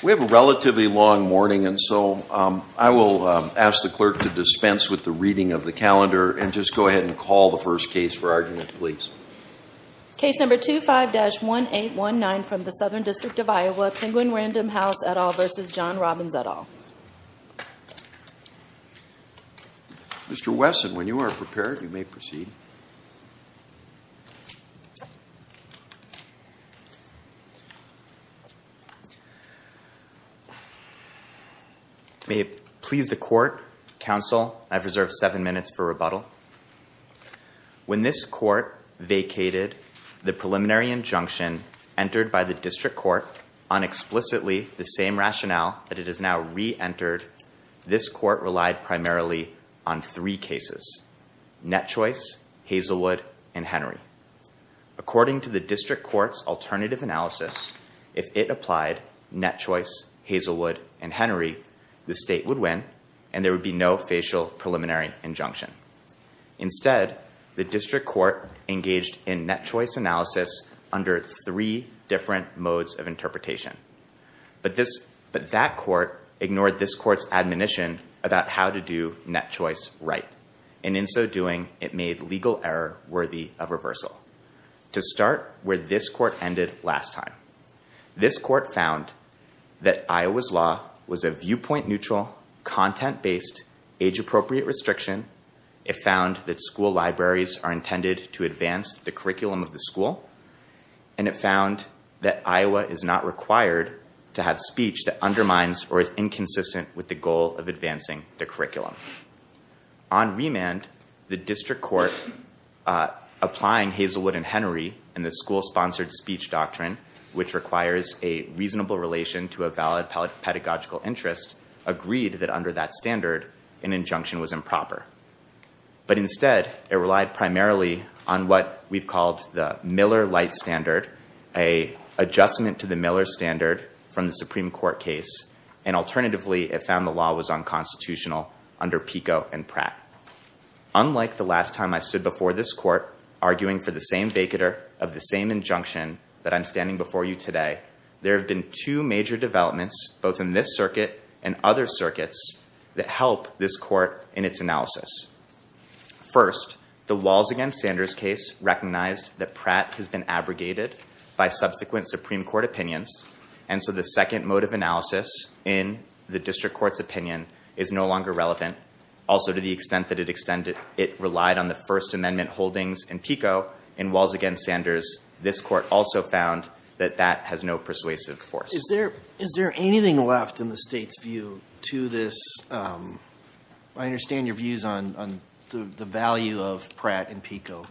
We have a relatively long morning and so I will ask the clerk to dispense with the reading of the calendar and just go ahead and call the first case for argument, please. Case number 25-1819 from the Southern District of Iowa, Penguin Random House, et al. v. John Robbins, et al. Mr. Wesson, when you are prepared, you may proceed. May it please the Court, Counsel, I have reserved seven minutes for rebuttal. When this Court vacated the preliminary injunction entered by the District Court on explicitly the same rationale that it has now re-entered, this Court relied primarily on three cases, Net Choice, Hazelwood, and Henry. According to the District Court's alternative analysis, if it applied Net Choice, Hazelwood, and Henry, the State would win and there would be no facial preliminary injunction. Instead, the District Court engaged in Net Choice analysis under three different modes of interpretation, but that Court ignored this Court's admonition about how to do Net Choice right, and in so doing, it made legal error worthy of reversal. To start where this Court ended last time, this Court found that Iowa's law was a viewpoint neutral, content-based, age-appropriate restriction. It found that school libraries are intended to advance the curriculum of the school. And it found that Iowa is not required to have speech that undermines or is inconsistent with the goal of advancing the curriculum. On remand, the District Court applying Hazelwood and Henry and the school-sponsored speech doctrine, which requires a reasonable relation to a valid pedagogical interest, agreed that under that standard, an injunction was improper. But instead, it relied primarily on what we've called the Miller-Light standard, a adjustment to the Miller standard from the Supreme Court case, and alternatively, it found the law was unconstitutional under Pico and Pratt. Unlike the last time I stood before this Court arguing for the same vacater of the same injunction that I'm standing before you today, there have been two major developments, both in this circuit and other circuits, that help this Court in its analysis. First, the Walls v. Sanders case recognized that Pratt has been abrogated by subsequent Supreme Court opinions, and so the second mode of analysis in the District Court's opinion is no longer relevant. Also, to the extent that it relied on the First Amendment holdings in Pico and Walls v. Sanders, this Court also found that that has no persuasive force. Is there anything left in the State's view to this? I understand your views on the value of Pratt and Pico.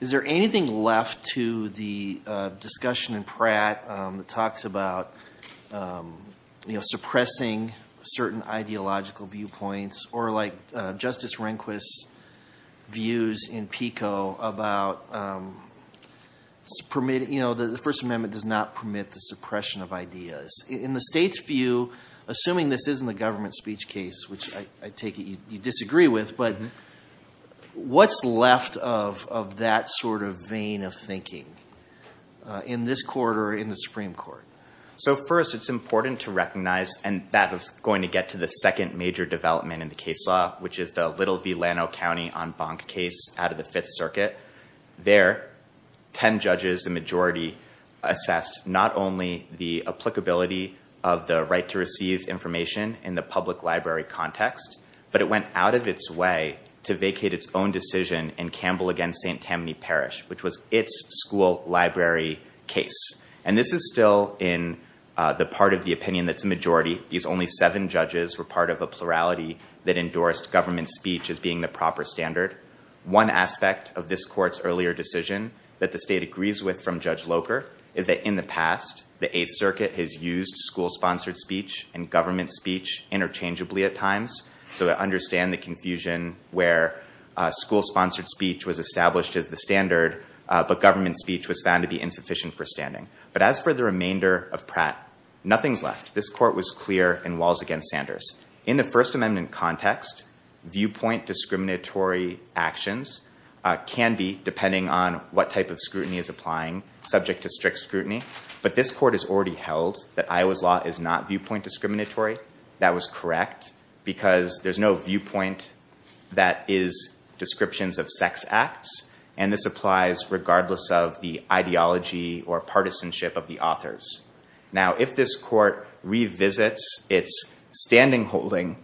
Is there anything left to the discussion in Pratt that talks about suppressing certain ideological viewpoints, or like Justice Rehnquist's views in Pico about the First Amendment does not permit the suppression of ideas? In the State's view, assuming this isn't a government speech case, which I take it you disagree with, but what's left of that sort of vein of thinking in this Court or in the Supreme Court? So first, it's important to recognize, and that is going to get to the second major development in the case law, which is the Little v. Lano County en banc case out of the Fifth Circuit. There, 10 judges, a majority, assessed not only the applicability of the right to receive information in the public library context, but it went out of its way to vacate its own decision in Campbell v. St. Tammany Parish, which was its school library case. And this is still in the part of the opinion that's a majority. These only seven judges were part of a plurality that endorsed government speech as being the proper standard. One aspect of this Court's earlier decision that the State agrees with from Judge Locher is that in the past, the Eighth Circuit has used school-sponsored speech and government speech interchangeably at times, so to understand the confusion where school-sponsored speech was established as the standard, but government speech was found to be insufficient for standing. But as for the remainder of Pratt, nothing's left. This Court was clear in walls against Sanders. In the First Amendment context, viewpoint discriminatory actions can be, depending on what type of scrutiny is applying, subject to strict scrutiny. But this Court has already held that Iowa's law is not viewpoint discriminatory. That was correct, because there's no viewpoint that is descriptions of sex acts, and this applies regardless of the ideology or partisanship of the authors. Now, if this Court revisits its standing holding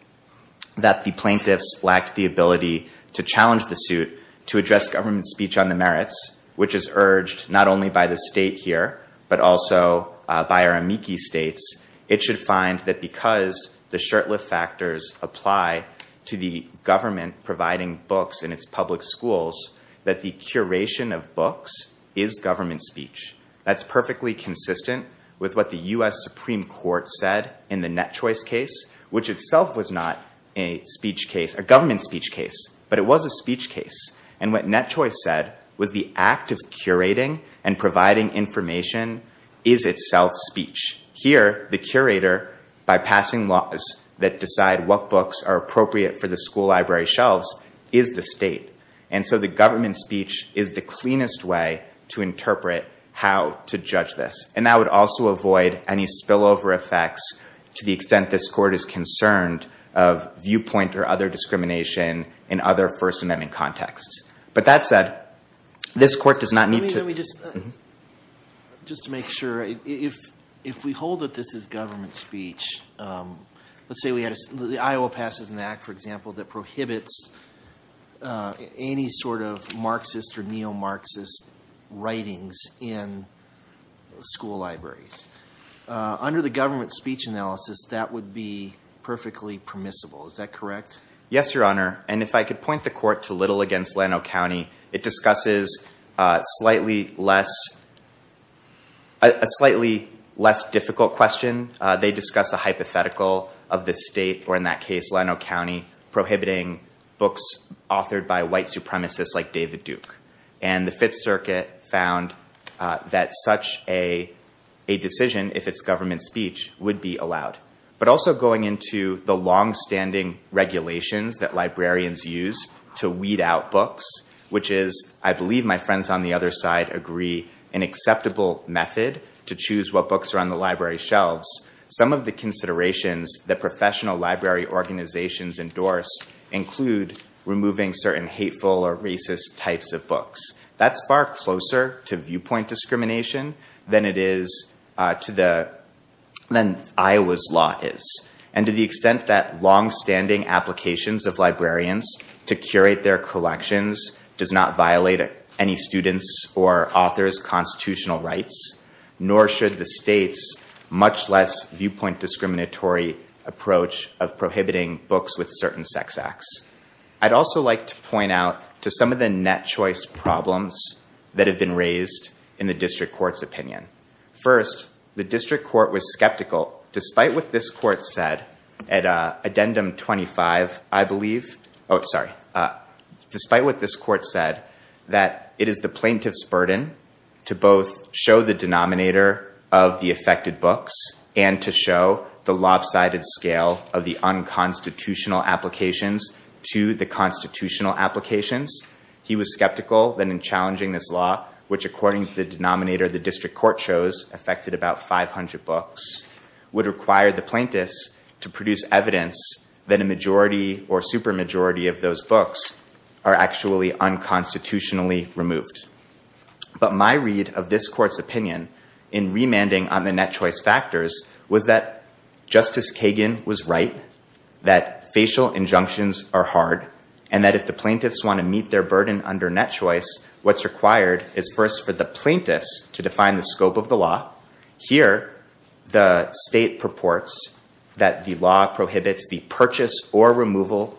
that the plaintiffs lacked the ability to challenge the suit to address government speech on the merits, which is urged not only by the State here, but also by our amici States, it should find that because the shirtlift factors apply to the government providing books in its public schools, that the curation of books is government speech. That's perfectly consistent with what the U.S. Supreme Court said in the Net Choice case, which itself was not a speech case, a government speech case, but it was a speech case. And what Net Choice said was the act of curating and providing information is itself speech. Here, the curator, by passing laws that decide what books are appropriate for the school library shelves, is the State. And so the government speech is the cleanest way to interpret how to judge this. And that would also avoid any spillover effects to the extent this Court is concerned of viewpoint or other discrimination in other First Amendment contexts. But that said, this Court does not need to— Let me just, just to make sure, if we hold that this is government speech, let's say Iowa passes an act, for example, that prohibits any sort of Marxist or neo-Marxist writings in school libraries. Under the government speech analysis, that would be perfectly permissible. Is that correct? Yes, Your Honor. And if I could point the Court to Little v. Lano County, it discusses a slightly less difficult question. They discuss a hypothetical of the state, or in that case, Lano County, prohibiting books authored by white supremacists like David Duke. And the Fifth Circuit found that such a decision, if it's government speech, would be allowed. But also going into the longstanding regulations that librarians use to weed out books, which is, I believe my friends on the other side agree, an acceptable method to choose what books are on the library shelves, some of the considerations that professional library organizations endorse include removing certain hateful or racist types of books. That's far closer to viewpoint discrimination than it is to the—than Iowa's law is. And to the extent that longstanding applications of librarians to curate their collections does not violate any student's or author's constitutional rights, nor should the state's much less viewpoint discriminatory approach of prohibiting books with certain sex acts. I'd also like to point out to some of the net choice problems that have been raised in the District Court's opinion. First, the District Court was skeptical, despite what this Court said at Addendum 25, I believe. Oh, sorry. Despite what this Court said, that it is the plaintiff's burden to both show the denominator of the affected books and to show the lopsided scale of the unconstitutional applications to the constitutional applications. He was skeptical that in challenging this law, which according to the denominator the District Court chose affected about 500 books, would require the plaintiffs to produce evidence that a majority or supermajority of those books are actually unconstitutionally removed. But my read of this Court's opinion in remanding on the net choice factors was that Justice Kagan was right, that facial injunctions are hard, and that if the plaintiffs want to meet their burden under net choice, what's required is first for the plaintiffs to define the scope of the law. Here, the state purports that the law prohibits the purchase or removal,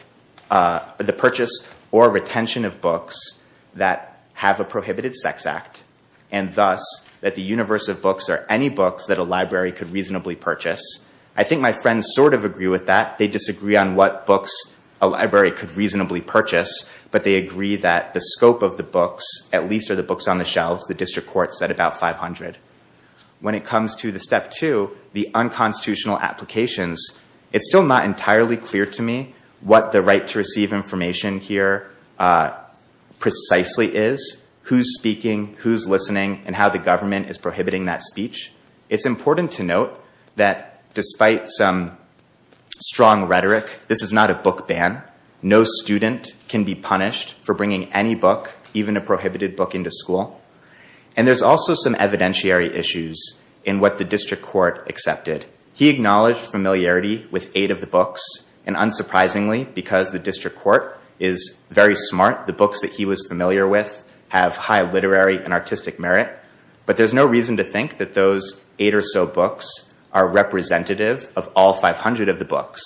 the purchase or retention of books that have a prohibited sex act, and thus that the universe of books are any books that a library could reasonably purchase. I think my friends sort of agree with that. They disagree on what books a library could reasonably purchase, but they agree that the scope of the books at least are the books on the shelves. The District Court said about 500. When it comes to the step two, the unconstitutional applications, it's still not entirely clear to me what the right to receive information here precisely is, who's speaking, who's listening, and how the government is prohibiting that speech. It's important to note that despite some strong rhetoric, this is not a book ban. No student can be punished for bringing any book, even a prohibited book, into school. And there's also some evidentiary issues in what the District Court accepted. He acknowledged familiarity with eight of the books. And unsurprisingly, because the District Court is very smart, the books that he was familiar with have high literary and artistic merit. But there's no reason to think that those eight or so books are representative of all 500 of the books.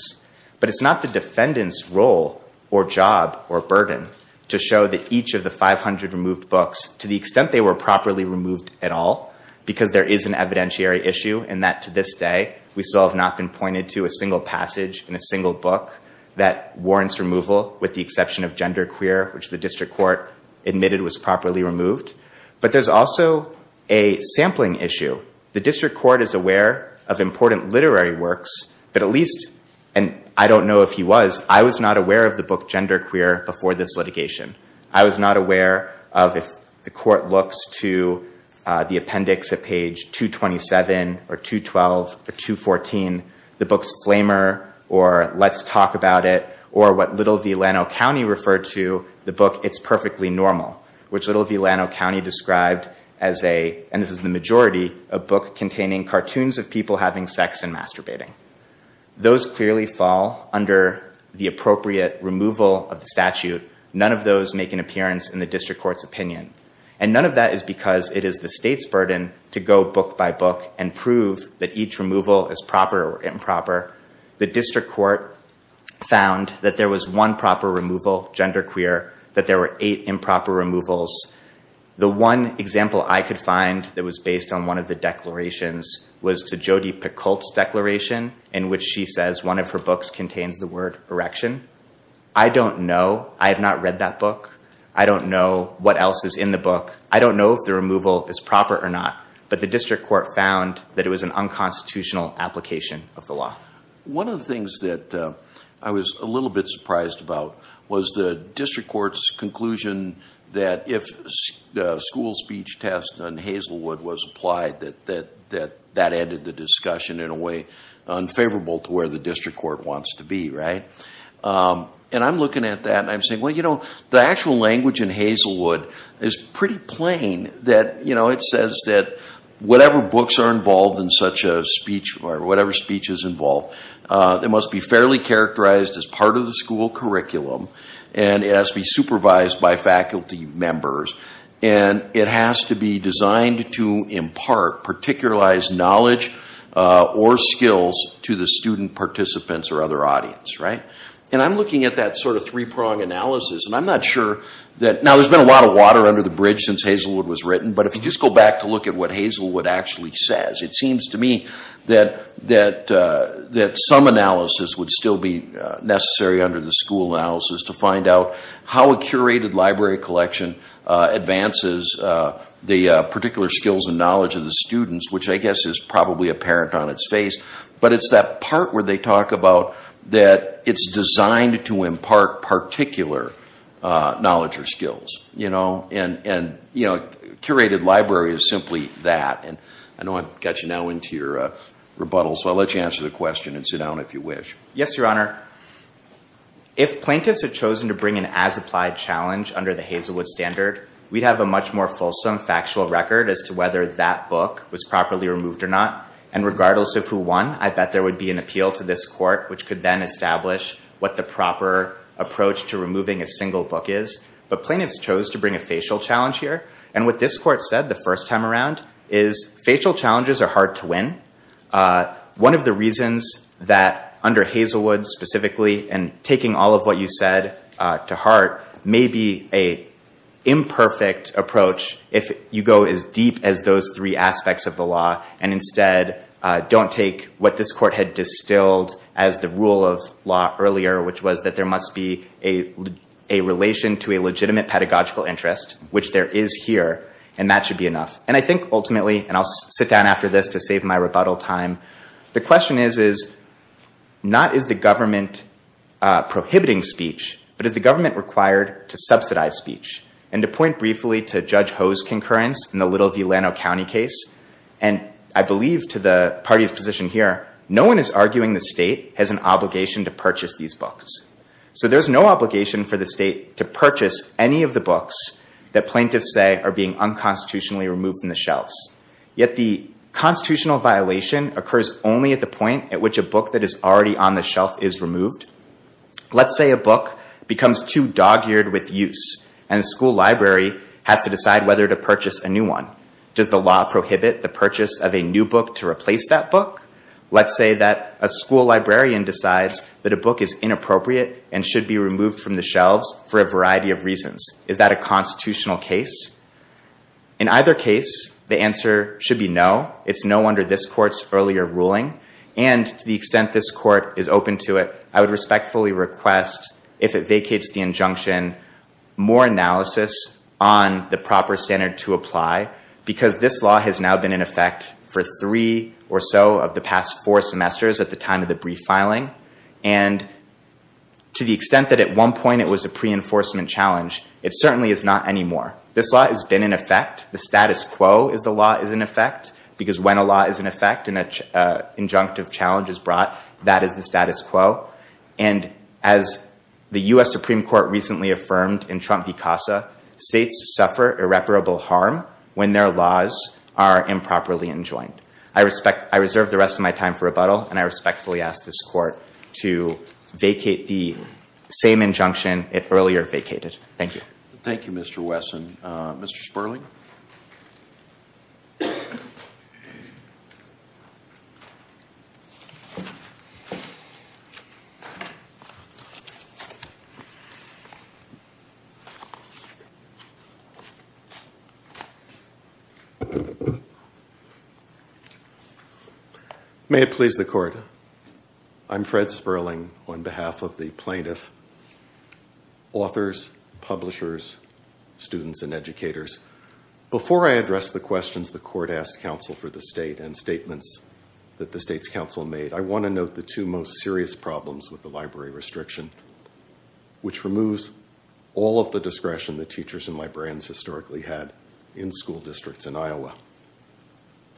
But it's not the defendant's role or job or burden to show that each of the 500 removed books to the extent they were properly removed at all, because there is an evidentiary issue in that to this day, we still have not been pointed to a single passage in a single book that warrants removal with the exception of Gender Queer, which the District Court admitted was properly removed. But there's also a sampling issue. The District Court is aware of important literary works, but at least, and I don't know if he was, I was not aware of the book Gender Queer before this litigation. I was not aware of, if the court looks to the appendix at page 227 or 212 or 214, the books Flamer or Let's Talk About It or what Little Villano County referred to the book It's Perfectly Normal, which Little Villano County described as a, and this is the majority, a book containing cartoons of people having sex and masturbating. Those clearly fall under the appropriate removal of the statute. None of those make an appearance in the District Court's opinion. And none of that is because it is the state's burden to go book by book and prove that each removal is proper or improper. The District Court found that there was one proper removal, Gender Queer, that there were eight improper removals. The one example I could find that was based on one of the declarations was to Jodi Picoult's declaration, in which she says one of her books contains the word erection. I don't know. I have not read that book. I don't know what else is in the book. I don't know if the removal is proper or not. But the District Court found that it was an unconstitutional application of the law. One of the things that I was a little bit surprised about was the District Court's conclusion that if the school speech test on Hazelwood was applied, that that ended the discussion in a way unfavorable to where the District Court wants to be, right? And I'm looking at that and I'm saying, well, you know, the actual language in Hazelwood is pretty plain that, you know, it says that whatever books are involved in such a speech or whatever speech is involved, it must be fairly characterized as part of the school curriculum and it has to be supervised by faculty members and it has to be designed to impart particularized knowledge or skills to the student participants or other audience, right? And I'm looking at that sort of three-prong analysis and I'm not sure that – now, there's been a lot of water under the bridge since Hazelwood was written, but if you just go back to look at what Hazelwood actually says, it seems to me that some analysis would still be necessary under the school analysis to find out how a curated library collection advances the particular skills and knowledge of the students, which I guess is probably apparent on its face, but it's that part where they talk about that it's designed to impart particular knowledge or skills, you know? And, you know, curated library is simply that. And I know I've got you now into your rebuttal, so I'll let you answer the question and sit down if you wish. Yes, Your Honor. If plaintiffs had chosen to bring an as-applied challenge under the Hazelwood standard, we'd have a much more fulsome factual record as to whether that book was properly removed or not. And regardless of who won, I bet there would be an appeal to this court which could then establish what the proper approach to removing a single book is. But plaintiffs chose to bring a facial challenge here. And what this court said the first time around is facial challenges are hard to win. One of the reasons that under Hazelwood specifically, and taking all of what you said to heart, may be an imperfect approach if you go as deep as those three aspects of the law and instead don't take what this court had distilled as the rule of law earlier, which was that there must be a relation to a legitimate pedagogical interest, which there is here, and that should be enough. And I think ultimately, and I'll sit down after this to save my rebuttal time, the question is not is the government prohibiting speech, but is the government required to subsidize speech? And to point briefly to Judge Ho's concurrence in the Little Villano County case, and I believe to the party's position here, no one is arguing the state has an obligation to purchase these books. So there's no obligation for the state to purchase any of the books that plaintiffs say are being unconstitutionally removed from the shelves. Yet the constitutional violation occurs only at the point at which a book that is already on the shelf is removed. Let's say a book becomes too dog-eared with use, and the school library has to decide whether to purchase a new one. Does the law prohibit the purchase of a new book to replace that book? Let's say that a school librarian decides that a book is inappropriate and should be removed from the shelves for a variety of reasons. Is that a constitutional case? In either case, the answer should be no. It's no under this court's earlier ruling. And to the extent this court is open to it, I would respectfully request, if it vacates the injunction, more analysis on the proper standard to apply, because this law has now been in effect for three or so of the past four semesters at the time of the brief filing. And to the extent that at one point it was a pre-enforcement challenge, it certainly is not anymore. This law has been in effect. The status quo is the law is in effect, because when a law is in effect and an injunctive challenge is brought, that is the status quo. And as the US Supreme Court recently affirmed in Trump v. Casa, states suffer irreparable harm when their laws are improperly enjoined. I reserve the rest of my time for rebuttal, and I respectfully ask this court to vacate the same injunction it earlier vacated. Thank you. Thank you, Mr. Wesson. Mr. Sperling? May it please the court, I'm Fred Sperling on behalf of the plaintiff. Authors, publishers, students, and educators, before I address the questions the court asked counsel for the state and statements that the state's counsel made, I want to note the two most serious problems with the library restriction, which removes all of the discretion that teachers and librarians historically had in school districts in Iowa.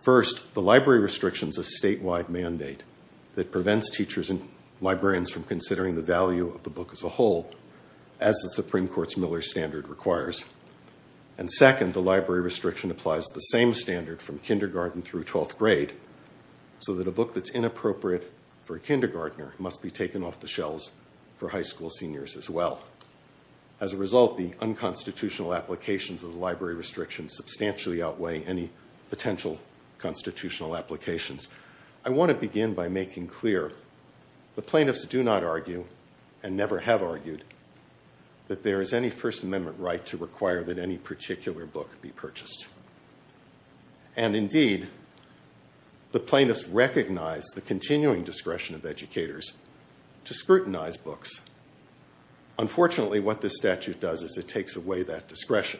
First, the library restriction is a statewide mandate that prevents teachers and librarians from considering the value of the book as a whole, as the Supreme Court's Miller Standard requires. And second, the library restriction applies the same standard from kindergarten through 12th grade, so that a book that's inappropriate for a kindergartner must be taken off the shelves for high school seniors as well. As a result, the unconstitutional applications of the library restriction substantially outweigh any potential constitutional applications. I want to begin by making clear the plaintiffs do not argue, and never have argued, that there is any First Amendment right to require that any particular book be purchased. And indeed, the plaintiffs recognize the continuing discretion of educators to scrutinize books. Unfortunately, what this statute does is it takes away that discretion.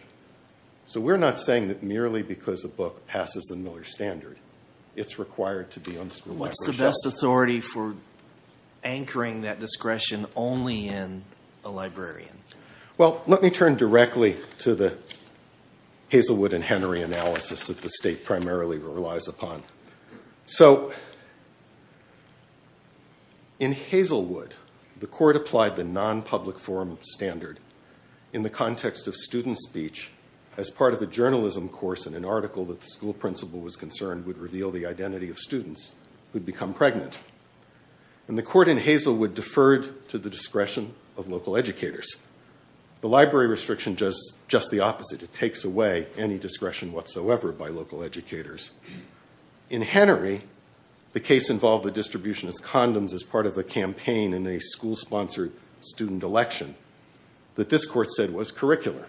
So we're not saying that merely because a book passes the Miller Standard, it's required to be on school library shelves. What's the best authority for anchoring that discretion only in a librarian? Well, let me turn directly to the Hazelwood and Henry analysis that the state primarily relies upon. So in Hazelwood, the court applied the non-public forum standard in the context of student speech as part of a journalism course in an article that the school principal was concerned would reveal the identity of students who'd become pregnant. And the court in Hazelwood deferred to the discretion of local educators. The library restriction does just the opposite. It takes away any discretion whatsoever by local educators. In Henry, the case involved the distribution of condoms as part of a campaign in a school-sponsored student election that this court said was curricular.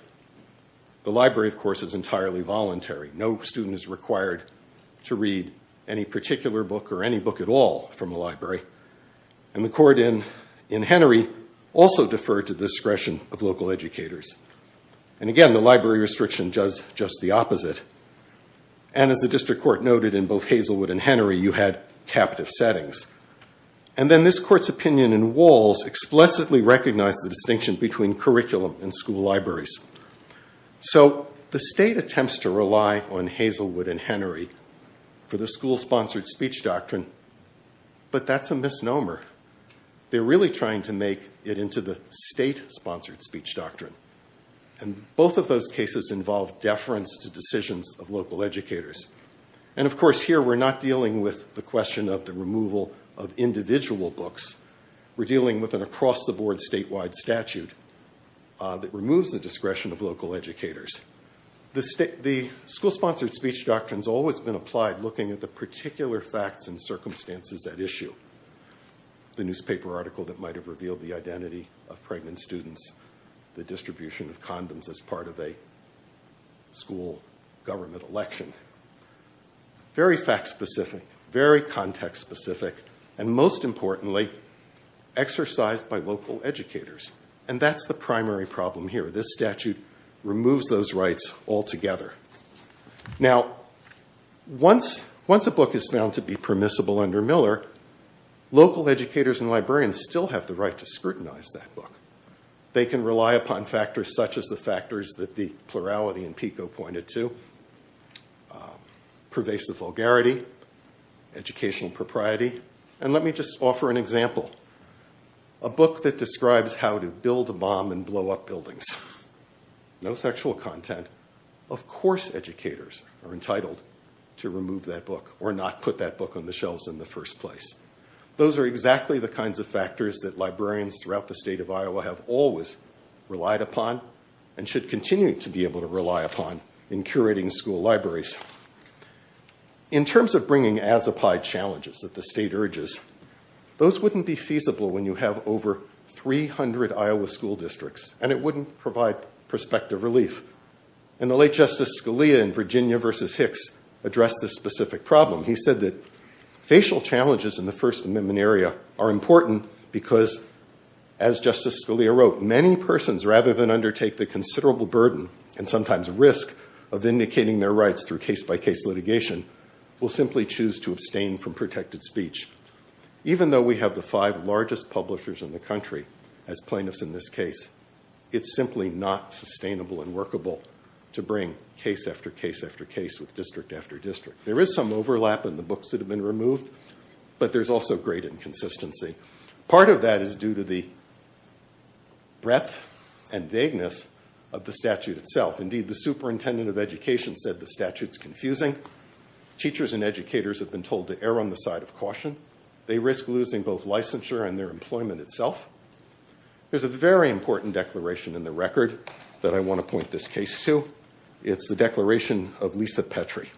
The library, of course, is entirely voluntary. No student is required to read any particular book or any book at all from a library. And the court in Henry also deferred to the discretion of local educators. And again, the library restriction does just the opposite. And as the district court noted in both Hazelwood and Henry, you had captive settings. And then this court's opinion in Walls explicitly recognized the distinction between curriculum and school libraries. So the state attempts to rely on Hazelwood and Henry for the school-sponsored speech doctrine, but that's a misnomer. They're really trying to make it into the state-sponsored speech doctrine. And both of those cases involve deference to decisions of local educators. And of course, here we're not dealing with the question of the removal of individual books. We're dealing with an across-the-board statewide statute that removes the discretion of local educators. The school-sponsored speech doctrine's always been applied looking at the particular facts and circumstances at issue, the newspaper article that might have revealed the identity of pregnant students, the distribution of condoms as part of a school government election. Very fact-specific, very context-specific, and most importantly, exercised by local educators. And that's the primary problem here. This statute removes those rights altogether. Now, once a book is found to be permissible under Miller, local educators and librarians still have the right to scrutinize that book. They can rely upon factors such as the factors that the plurality in PICO pointed to, pervasive vulgarity, educational propriety. And let me just offer an example. A book that describes how to build a bomb and blow up buildings. No sexual content. Of course, educators are entitled to remove that book or not put that book on the shelves in the first place. Those are exactly the kinds of factors that librarians throughout the state of Iowa have always relied upon and should continue to be able to rely upon in curating school libraries. In terms of bringing as applied challenges that the state urges, those wouldn't be feasible when you have over 300 Iowa school districts, and it wouldn't provide prospective relief. In the late Justice Scalia in Virginia versus Hicks addressed this specific problem. He said that facial challenges in the First Amendment area are important because, as Justice Scalia wrote, many persons, rather than undertake the considerable burden and sometimes risk of indicating their rights through case-by-case litigation, will simply choose to abstain from protected speech. Even though we have the five largest publishers in the country as plaintiffs in this case, it's simply not sustainable and workable to bring case after case after case with district after district. There is some overlap in the books that have been removed, but there's also great inconsistency. Part of that is due to the breadth and vagueness of the statute itself. The superintendent of education said the statute is confusing. Teachers and educators have been told to err on the side of caution. They risk losing both licensure and their employment itself. There's a very important declaration in the record that I want to point this case to. It's the declaration of Lisa Petri.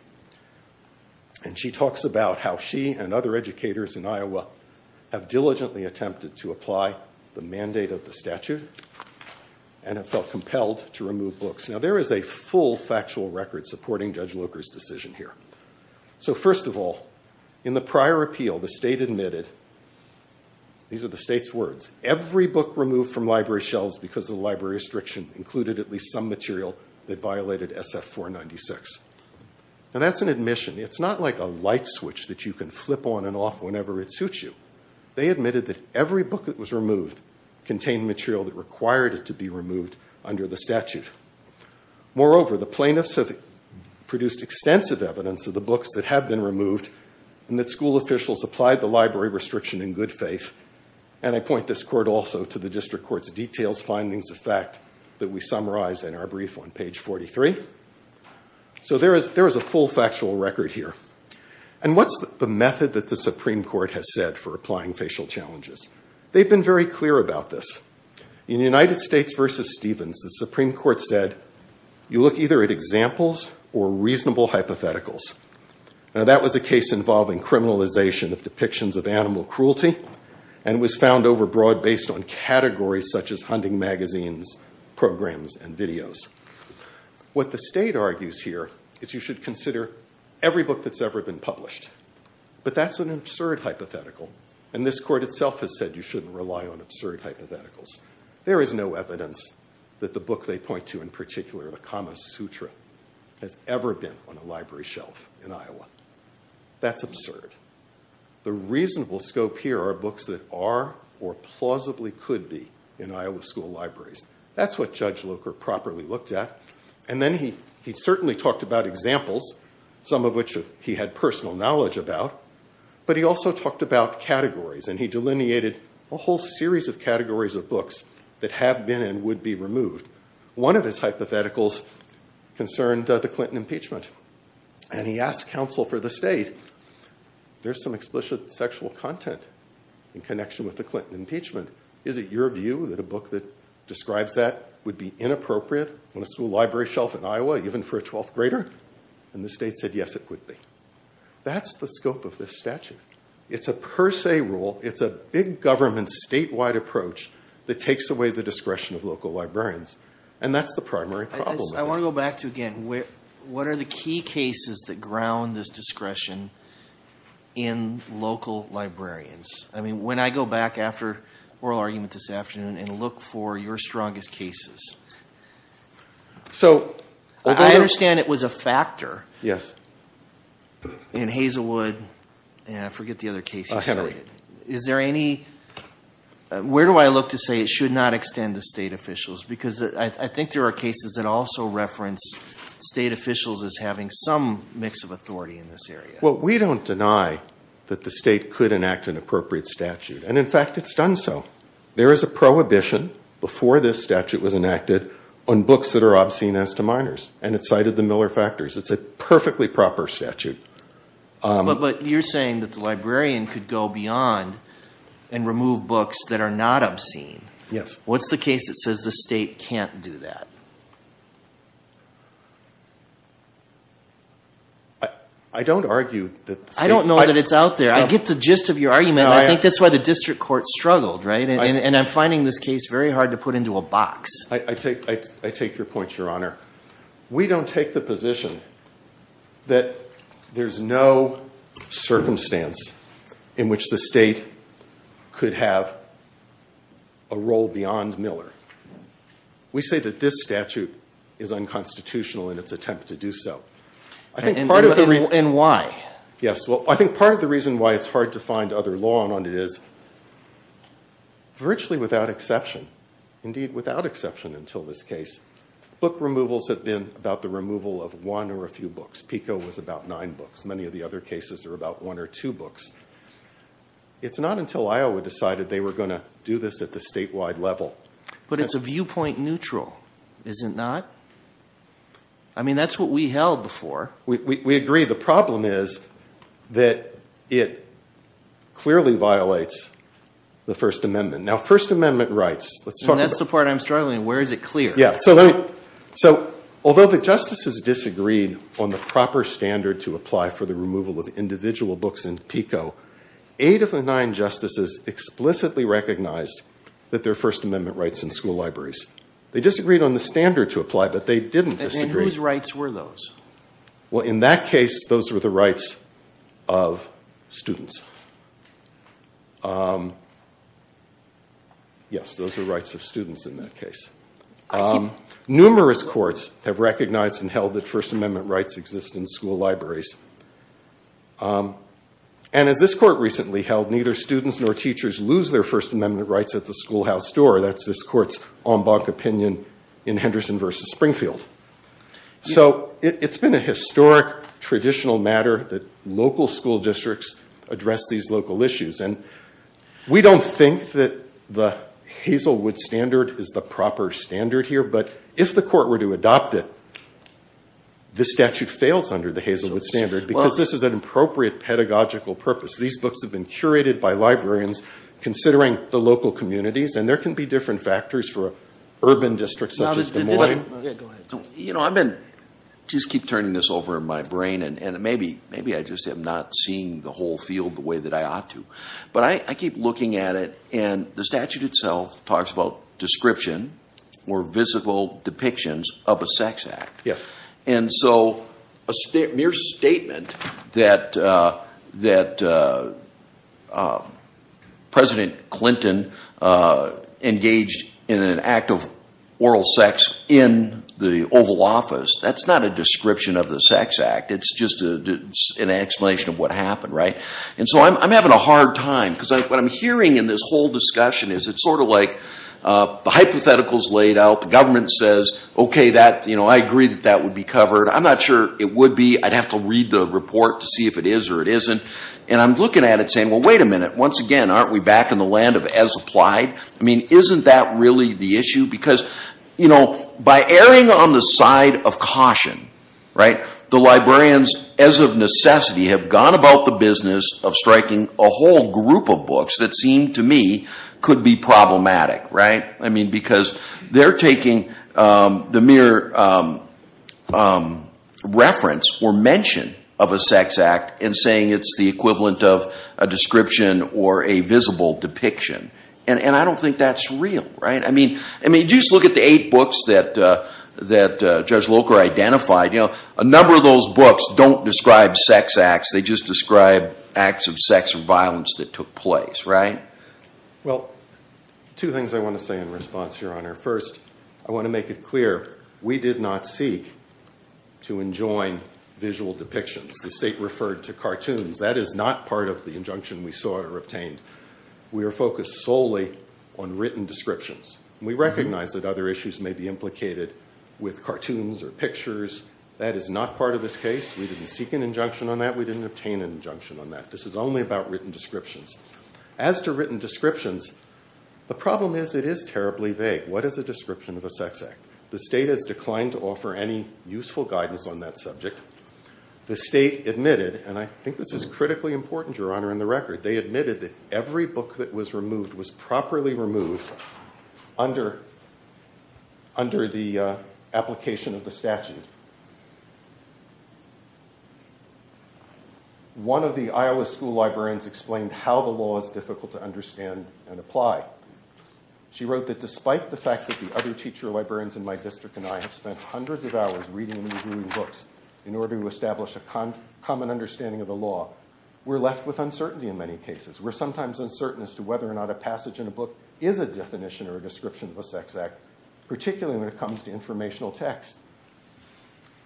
She talks about how she and other educators in Iowa have diligently attempted to apply the mandate of the statute and have felt compelled to remove books. Now, there is a full factual record supporting Judge Locher's decision here. First of all, in the prior appeal, the state admitted, these are the state's words, every book removed from library shelves because of the library restriction included at least some material that violated SF-496. That's an admission. It's not like a light switch that you can flip on and off whenever it suits you. They admitted that every book that was removed contained material that required it to be removed under the statute. Moreover, the plaintiffs have produced extensive evidence of the books that have been removed and that school officials applied the library restriction in good faith. And I point this court also to the district court's details findings of fact that we summarize in our brief on page 43. So there is a full factual record here. And what's the method that the Supreme Court has said for applying facial challenges? They've been very clear about this. In United States versus Stevens, the Supreme Court said, you look either at examples or reasonable hypotheticals. Now, that was a case involving criminalization of depictions of animal cruelty and was found overbroad based on categories such as hunting magazines, programs, and videos. What the state argues here is you should consider every book that's ever been published. But that's an absurd hypothetical. And this court itself has said you shouldn't rely on absurd hypotheticals. There is no evidence that the book they point to in particular, the Kama Sutra, has ever been on a library shelf in Iowa. That's absurd. The reasonable scope here are books that are or plausibly could be in Iowa school libraries. That's what Judge Locher properly looked at. And then he certainly talked about examples, some of which he had personal knowledge about. But he also talked about categories. And he delineated a whole series of categories of books that have been and would be removed. One of his hypotheticals concerned the Clinton impeachment. And he asked counsel for the state, there's some explicit sexual content in connection with the Clinton impeachment. Is it your view that a book that describes that would be inappropriate on a school library shelf in Iowa, even for a 12th grader? And the state said, yes, it would be. That's the scope of this statute. It's a per se rule. It's a big government statewide approach that takes away the discretion of local librarians. And that's the primary problem. I want to go back to, again, what are the key cases that ground this discretion in local librarians? I mean, when I go back after oral argument this afternoon and look for your strongest cases, I understand it was a factor. Yes. In Hazelwood, and I forget the other case you cited, is there any, where do I look to say it should not extend to state officials? Because I think there are cases that also reference state officials as having some mix of authority in this area. Well, we don't deny that the state could enact an appropriate statute. And in fact, it's done so. There is a prohibition before this statute was enacted on books that are obscene as to minors. And it cited the Miller factors. It's a perfectly proper statute. But you're saying that the librarian could go beyond and remove books that are not obscene. Yes. What's the case that says the state can't do that? I don't argue that the state... I don't know that it's out there. I get the gist of your argument. I think that's why the district court struggled, right? And I'm finding this case very hard to put into a box. I take your point, Your Honor. We don't take the position that there's no circumstance in which the state could have a role beyond Miller. We say that this statute is unconstitutional in its attempt to do so. And why? Yes. Well, I think part of the reason why it's hard to find other law on it is virtually without exception. Indeed, without exception until this case. Book removals have been about the removal of one or a few books. PICO was about nine books. Many of the other cases are about one or two books. It's not until Iowa decided they were going to do this at the statewide level. But it's a viewpoint neutral, is it not? I mean, that's what we held before. We agree. The problem is that it clearly violates the First Amendment. Now, First Amendment rights. And that's the part I'm struggling with. Where is it clear? Yeah, so although the justices disagreed on the proper standard to apply for the removal of individual books in PICO, eight of the nine justices explicitly recognized that there are First Amendment rights in school libraries. They disagreed on the standard to apply, but they didn't disagree. And whose rights were those? Well, in that case, those were the rights of students. Yes, those are rights of students in that case. Numerous courts have recognized and held that First Amendment rights exist in school libraries. And as this court recently held, neither students nor teachers lose their First Amendment rights at the schoolhouse door. That's this court's en banc opinion in Henderson versus Springfield. So it's been a historic, traditional matter that local school districts address these local issues. And we don't think that the Hazelwood standard is the proper standard here. But if the court were to adopt it, this statute fails under the Hazelwood standard because this is an appropriate pedagogical purpose. These books have been curated by librarians considering the local communities. And there can be different factors for urban districts such as Des Moines. OK, go ahead. You know, I just keep turning this over in my brain. And maybe I just am not seeing the whole field the way that I ought to. But I keep looking at it. And the statute itself talks about description or visible depictions of a sex act. Yes. And so a mere statement that President Clinton engaged in an act of oral sex in the Oval Office, that's not a description of the sex act. It's just an explanation of what happened, right? And so I'm having a hard time. Because what I'm hearing in this whole discussion is it's sort of like the hypothetical is laid out. The government says, OK, I agree that that would be covered. I'm not sure it would be. I'd have to read the report to see if it is or it isn't. And I'm looking at it saying, well, wait a minute. Once again, aren't we back in the land of as applied? I mean, isn't that really the issue? Because by erring on the side of caution, right, the librarians as of necessity have gone about the business of striking a whole group of books that seem to me could be problematic, right? I mean, because they're taking the mere reference or mention of a sex act and saying it's the equivalent of a description or a visible depiction. And I don't think that's real, right? I mean, just look at the eight books that Judge Locher identified. You know, a number of those books don't describe sex acts. They just describe acts of sex or violence that took place, right? Well, two things I want to say in response, Your Honor. First, I want to make it clear we did not seek to enjoin visual depictions. The state referred to cartoons. That is not part of the injunction we sought or obtained. We were focused solely on written descriptions. We recognize that other issues may be implicated with cartoons or pictures. That is not part of this case. We didn't seek an injunction on that. We didn't obtain an injunction on that. This is only about written descriptions. As to written descriptions, the problem is it is terribly vague. What is a description of a sex act? The state has declined to offer any useful guidance on that subject. The state admitted, and I think this is critically important, Your Honor, in the record. They admitted that every book that was removed was properly removed under the application of the statute. One of the Iowa school librarians explained how the law is difficult to understand and She wrote that despite the fact that the other teacher librarians in my district and I have spent hundreds of hours reading and reviewing books in order to establish a common understanding of the law, we're left with uncertainty in many cases. We're sometimes uncertain as to whether or not a passage in a book is a definition or a description of a sex act, particularly when it comes to informational text.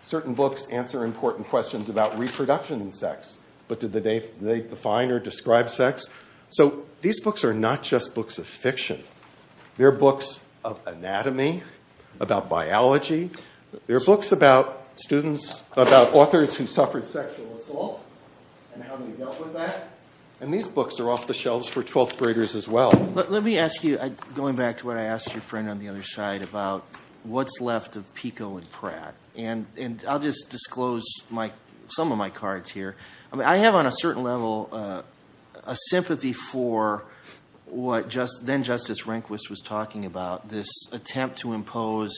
Certain books answer important questions about reproduction and sex, but do they define or describe sex? So these books are not just books of fiction. They're books of anatomy, about biology. They're books about authors who suffered sexual assault and how they dealt with that. And these books are off the shelves for 12th graders as well. But let me ask you, going back to what I asked your friend on the other side about what's left of Pico and Pratt, and I'll just disclose some of my cards here. I have on a certain level a sympathy for what then Justice Rehnquist was talking about, this attempt to impose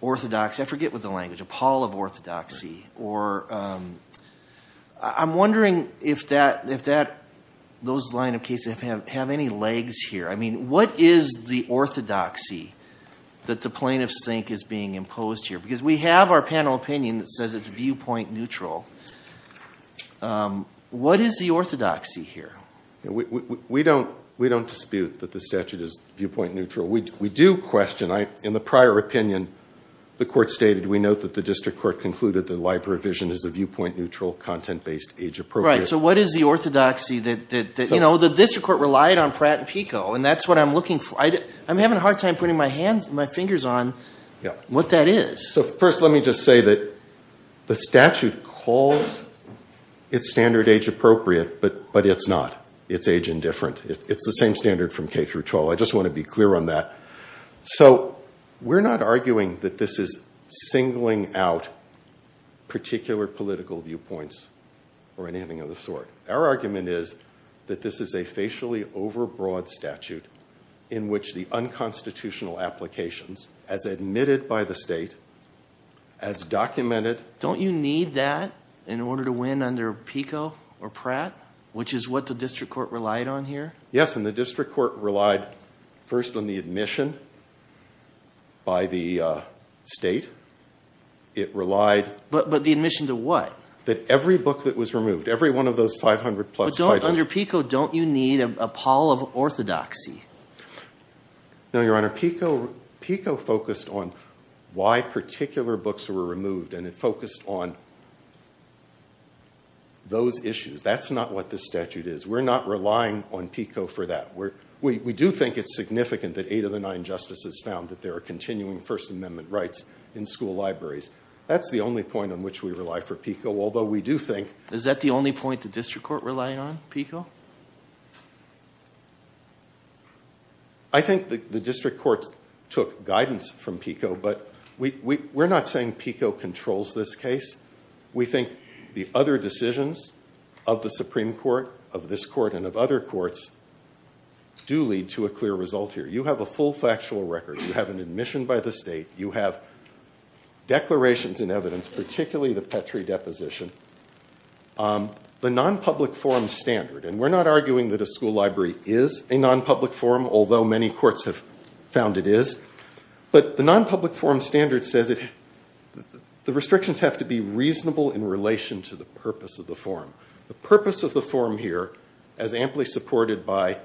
orthodoxy. I forget what the language, a pall of orthodoxy. Or I'm wondering if those line of cases have any legs here. What is the orthodoxy that the plaintiffs think is being imposed here? Because we have our panel opinion that says it's viewpoint neutral. What is the orthodoxy here? We don't dispute that the statute is viewpoint neutral. We do question. In the prior opinion, the court stated, we note that the district court concluded that library vision is a viewpoint neutral, content-based age appropriate. Right. So what is the orthodoxy? The district court relied on Pratt and Pico, and that's what I'm looking for. I'm having a hard time putting my fingers on what that is. So first, let me just say that the statute calls its standard age appropriate, but it's not. It's age indifferent. It's the same standard from K through 12. I just want to be clear on that. So we're not arguing that this is singling out particular political viewpoints or anything of the sort. Our argument is that this is a facially overbroad statute in which the unconstitutional applications, as admitted by the state, as documented— Don't you need that in order to win under Pico or Pratt, which is what the district court relied on here? Yes, and the district court relied first on the admission by the state. It relied— But the admission to what? That every book that was removed, every one of those 500-plus titles— Under Pico, don't you need a pall of orthodoxy? No, Your Honor. Pico focused on why particular books were removed, and it focused on those issues. That's not what the statute is. We're not relying on Pico for that. We do think it's significant that eight of the nine justices found that there are continuing First Amendment rights in school libraries. That's the only point on which we rely for Pico, although we do think— Is that the only point the district court relied on, Pico? I think the district court took guidance from Pico, but we're not saying Pico controls this case. We think the other decisions of the Supreme Court, of this court, and of other courts do lead to a clear result here. You have a full factual record. You have an admission by the state. You have declarations in evidence, particularly the Petrie deposition. The nonpublic forum standard—and we're not arguing that a school library is a nonpublic forum, although many courts have found it is—but the nonpublic forum standard says the restrictions have to be reasonable in relation to the purpose of the forum. The purpose of the forum here, as amply supported by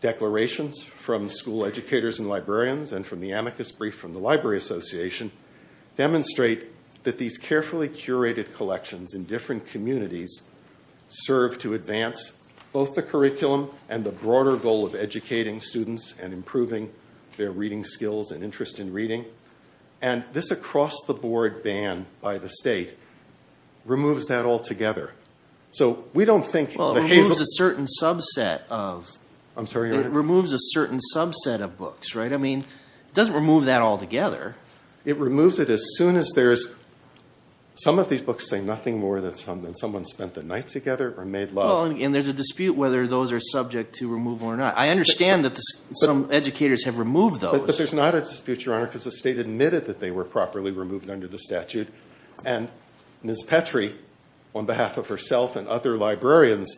declarations from school educators and the amicus brief from the Library Association, demonstrate that these carefully curated collections in different communities serve to advance both the curriculum and the broader goal of educating students and improving their reading skills and interest in reading. This across-the-board ban by the state removes that altogether. We don't think— Well, it removes a certain subset of— I'm sorry? It removes a certain subset of books, right? I mean, it doesn't remove that altogether. It removes it as soon as there's—some of these books say nothing more than someone spent the night together or made love. Well, and there's a dispute whether those are subject to removal or not. I understand that some educators have removed those. But there's not a dispute, Your Honor, because the state admitted that they were properly removed under the statute, and Ms. Petrie, on behalf of herself and other librarians,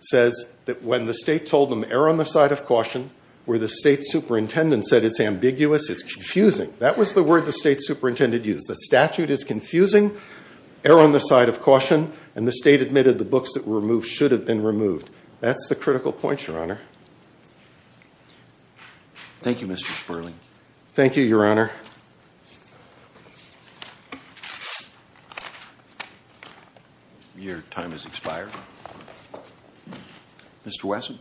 says that when the state told them, err on the side of caution, where the state superintendent said it's ambiguous, it's confusing. That was the word the state superintendent used. The statute is confusing. Err on the side of caution. And the state admitted the books that were removed should have been removed. That's the critical point, Your Honor. Thank you, Mr. Sperling. Thank you, Your Honor. Your time has expired. Mr. Wesson.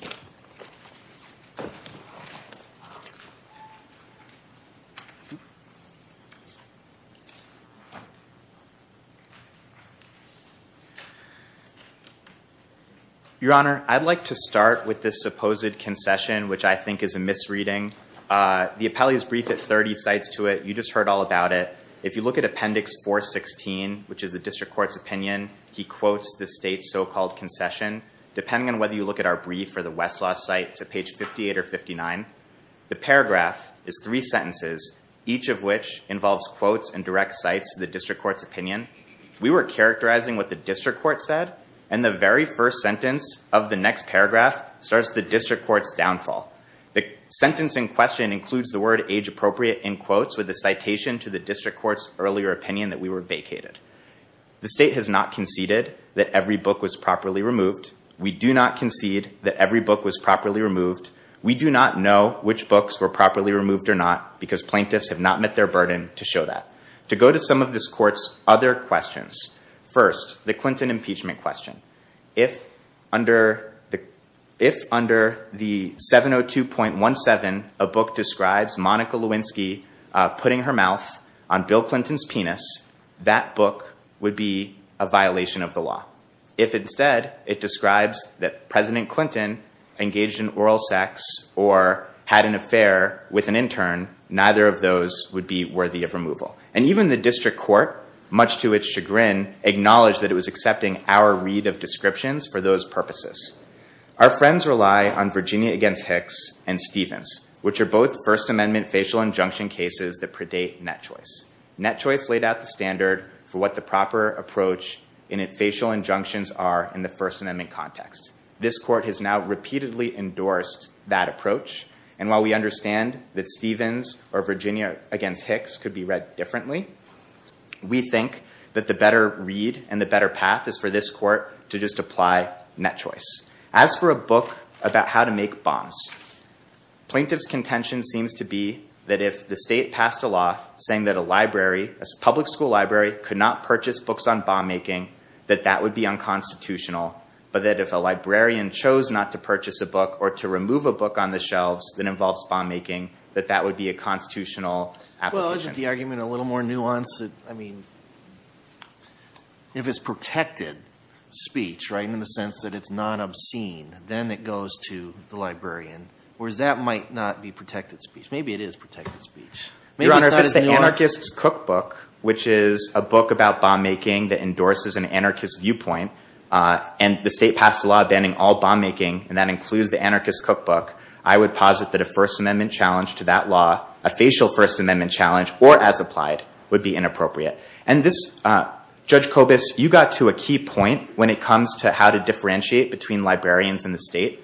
Your Honor, I'd like to start with this supposed concession, which I think is a misreading. The appellee's brief at 30 cites to it. You just heard all about it. If you look at Appendix 416, which is the district court's opinion, he quotes the state's concession. Depending on whether you look at our brief for the Westlaw site, it's at page 58 or 59. The paragraph is three sentences, each of which involves quotes and direct cites to the district court's opinion. We were characterizing what the district court said, and the very first sentence of the next paragraph starts the district court's downfall. The sentence in question includes the word age-appropriate in quotes with a citation to the district court's earlier opinion that we were vacated. The state has not conceded that every book was properly removed. We do not concede that every book was properly removed. We do not know which books were properly removed or not because plaintiffs have not met their burden to show that. To go to some of this court's other questions, first, the Clinton impeachment question. If under the 702.17, a book describes Monica Lewinsky putting her mouth on Bill Clinton's penis, that book would be a violation of the law. If instead, it describes that President Clinton engaged in oral sex or had an affair with an intern, neither of those would be worthy of removal. And even the district court, much to its chagrin, acknowledged that it was accepting our read of descriptions for those purposes. Our friends rely on Virginia against Hicks and Stevens, which are both First Amendment facial injunction cases that predate Net Choice. Net Choice laid out the standard for what the proper approach in facial injunctions are in the First Amendment context. This court has now repeatedly endorsed that approach. And while we understand that Stevens or Virginia against Hicks could be read differently, we think that the better read and the better path is for this court to just apply Net Choice. As for a book about how to make bonds, plaintiff's contention seems to be that if the state passed a law saying that a library, a public school library, could not purchase books on bond making, that that would be unconstitutional. But that if a librarian chose not to purchase a book or to remove a book on the shelves that involves bond making, that that would be a constitutional application. Well, isn't the argument a little more nuanced? I mean, if it's protected speech, right, in the sense that it's not obscene, then it goes to the librarian, whereas that might not be protected speech. Maybe it is protected speech. Your Honor, if it's the Anarchist's Cookbook, which is a book about bond making that endorses an anarchist viewpoint, and the state passed a law banning all bond making, and that includes the Anarchist's Cookbook, I would posit that a First Amendment challenge to that law, a facial First Amendment challenge, or as applied, would be inappropriate. And this, Judge Kobus, you got to a key point when it comes to how to differentiate between librarians in the state.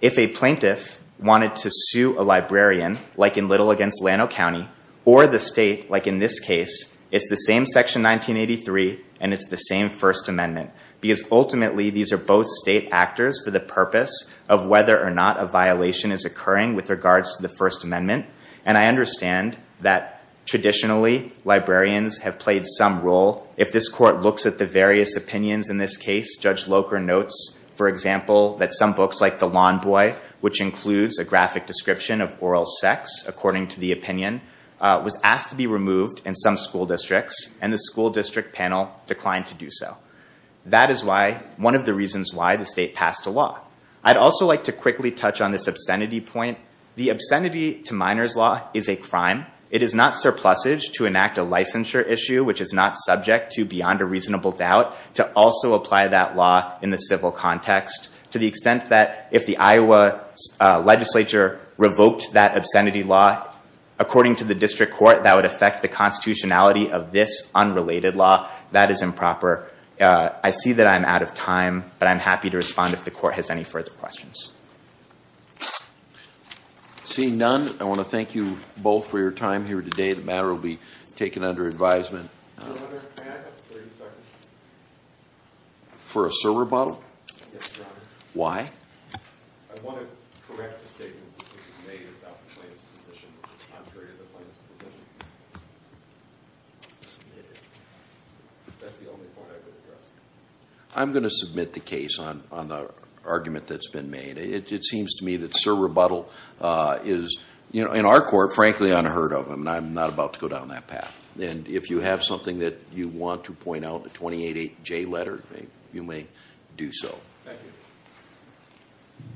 If a plaintiff wanted to sue a librarian, like in Little against Llano County, or the state, like in this case, it's the same Section 1983, and it's the same First Amendment. Because ultimately, these are both state actors for the purpose of whether or not a violation is occurring with regards to the First Amendment. And I understand that traditionally, librarians have played some role. If this court looks at the various opinions in this case, Judge Locher notes, for example, that some books like The Lawn Boy, which includes a graphic description of oral sex, according to the opinion, was asked to be removed in some school districts, and the school district panel declined to do so. That is one of the reasons why the state passed a law. I'd also like to quickly touch on this obscenity point. The obscenity to minors law is a crime. It is not surplusage to enact a licensure issue, which is not subject to beyond a reasonable doubt, to also apply that law in the civil context. To the extent that if the Iowa legislature revoked that obscenity law, according to the district court, that would affect the constitutionality of this unrelated law. That is improper. I see that I'm out of time, but I'm happy to respond if the court has any further questions. Seeing none, I want to thank you both for your time here today. The matter will be taken under advisement. For a server rebuttal? Yes, Your Honor. Why? I want to correct the statement that was made about the plaintiff's position, which is contrary to the plaintiff's position. That's the only point I would address. I'm going to submit the case on the argument that's been made. It seems to me that server rebuttal is, in our court, frankly, unheard of, and I'm not about to go down that path. And if you have something that you want to point out, the 288J letter, you may do so. Thank you.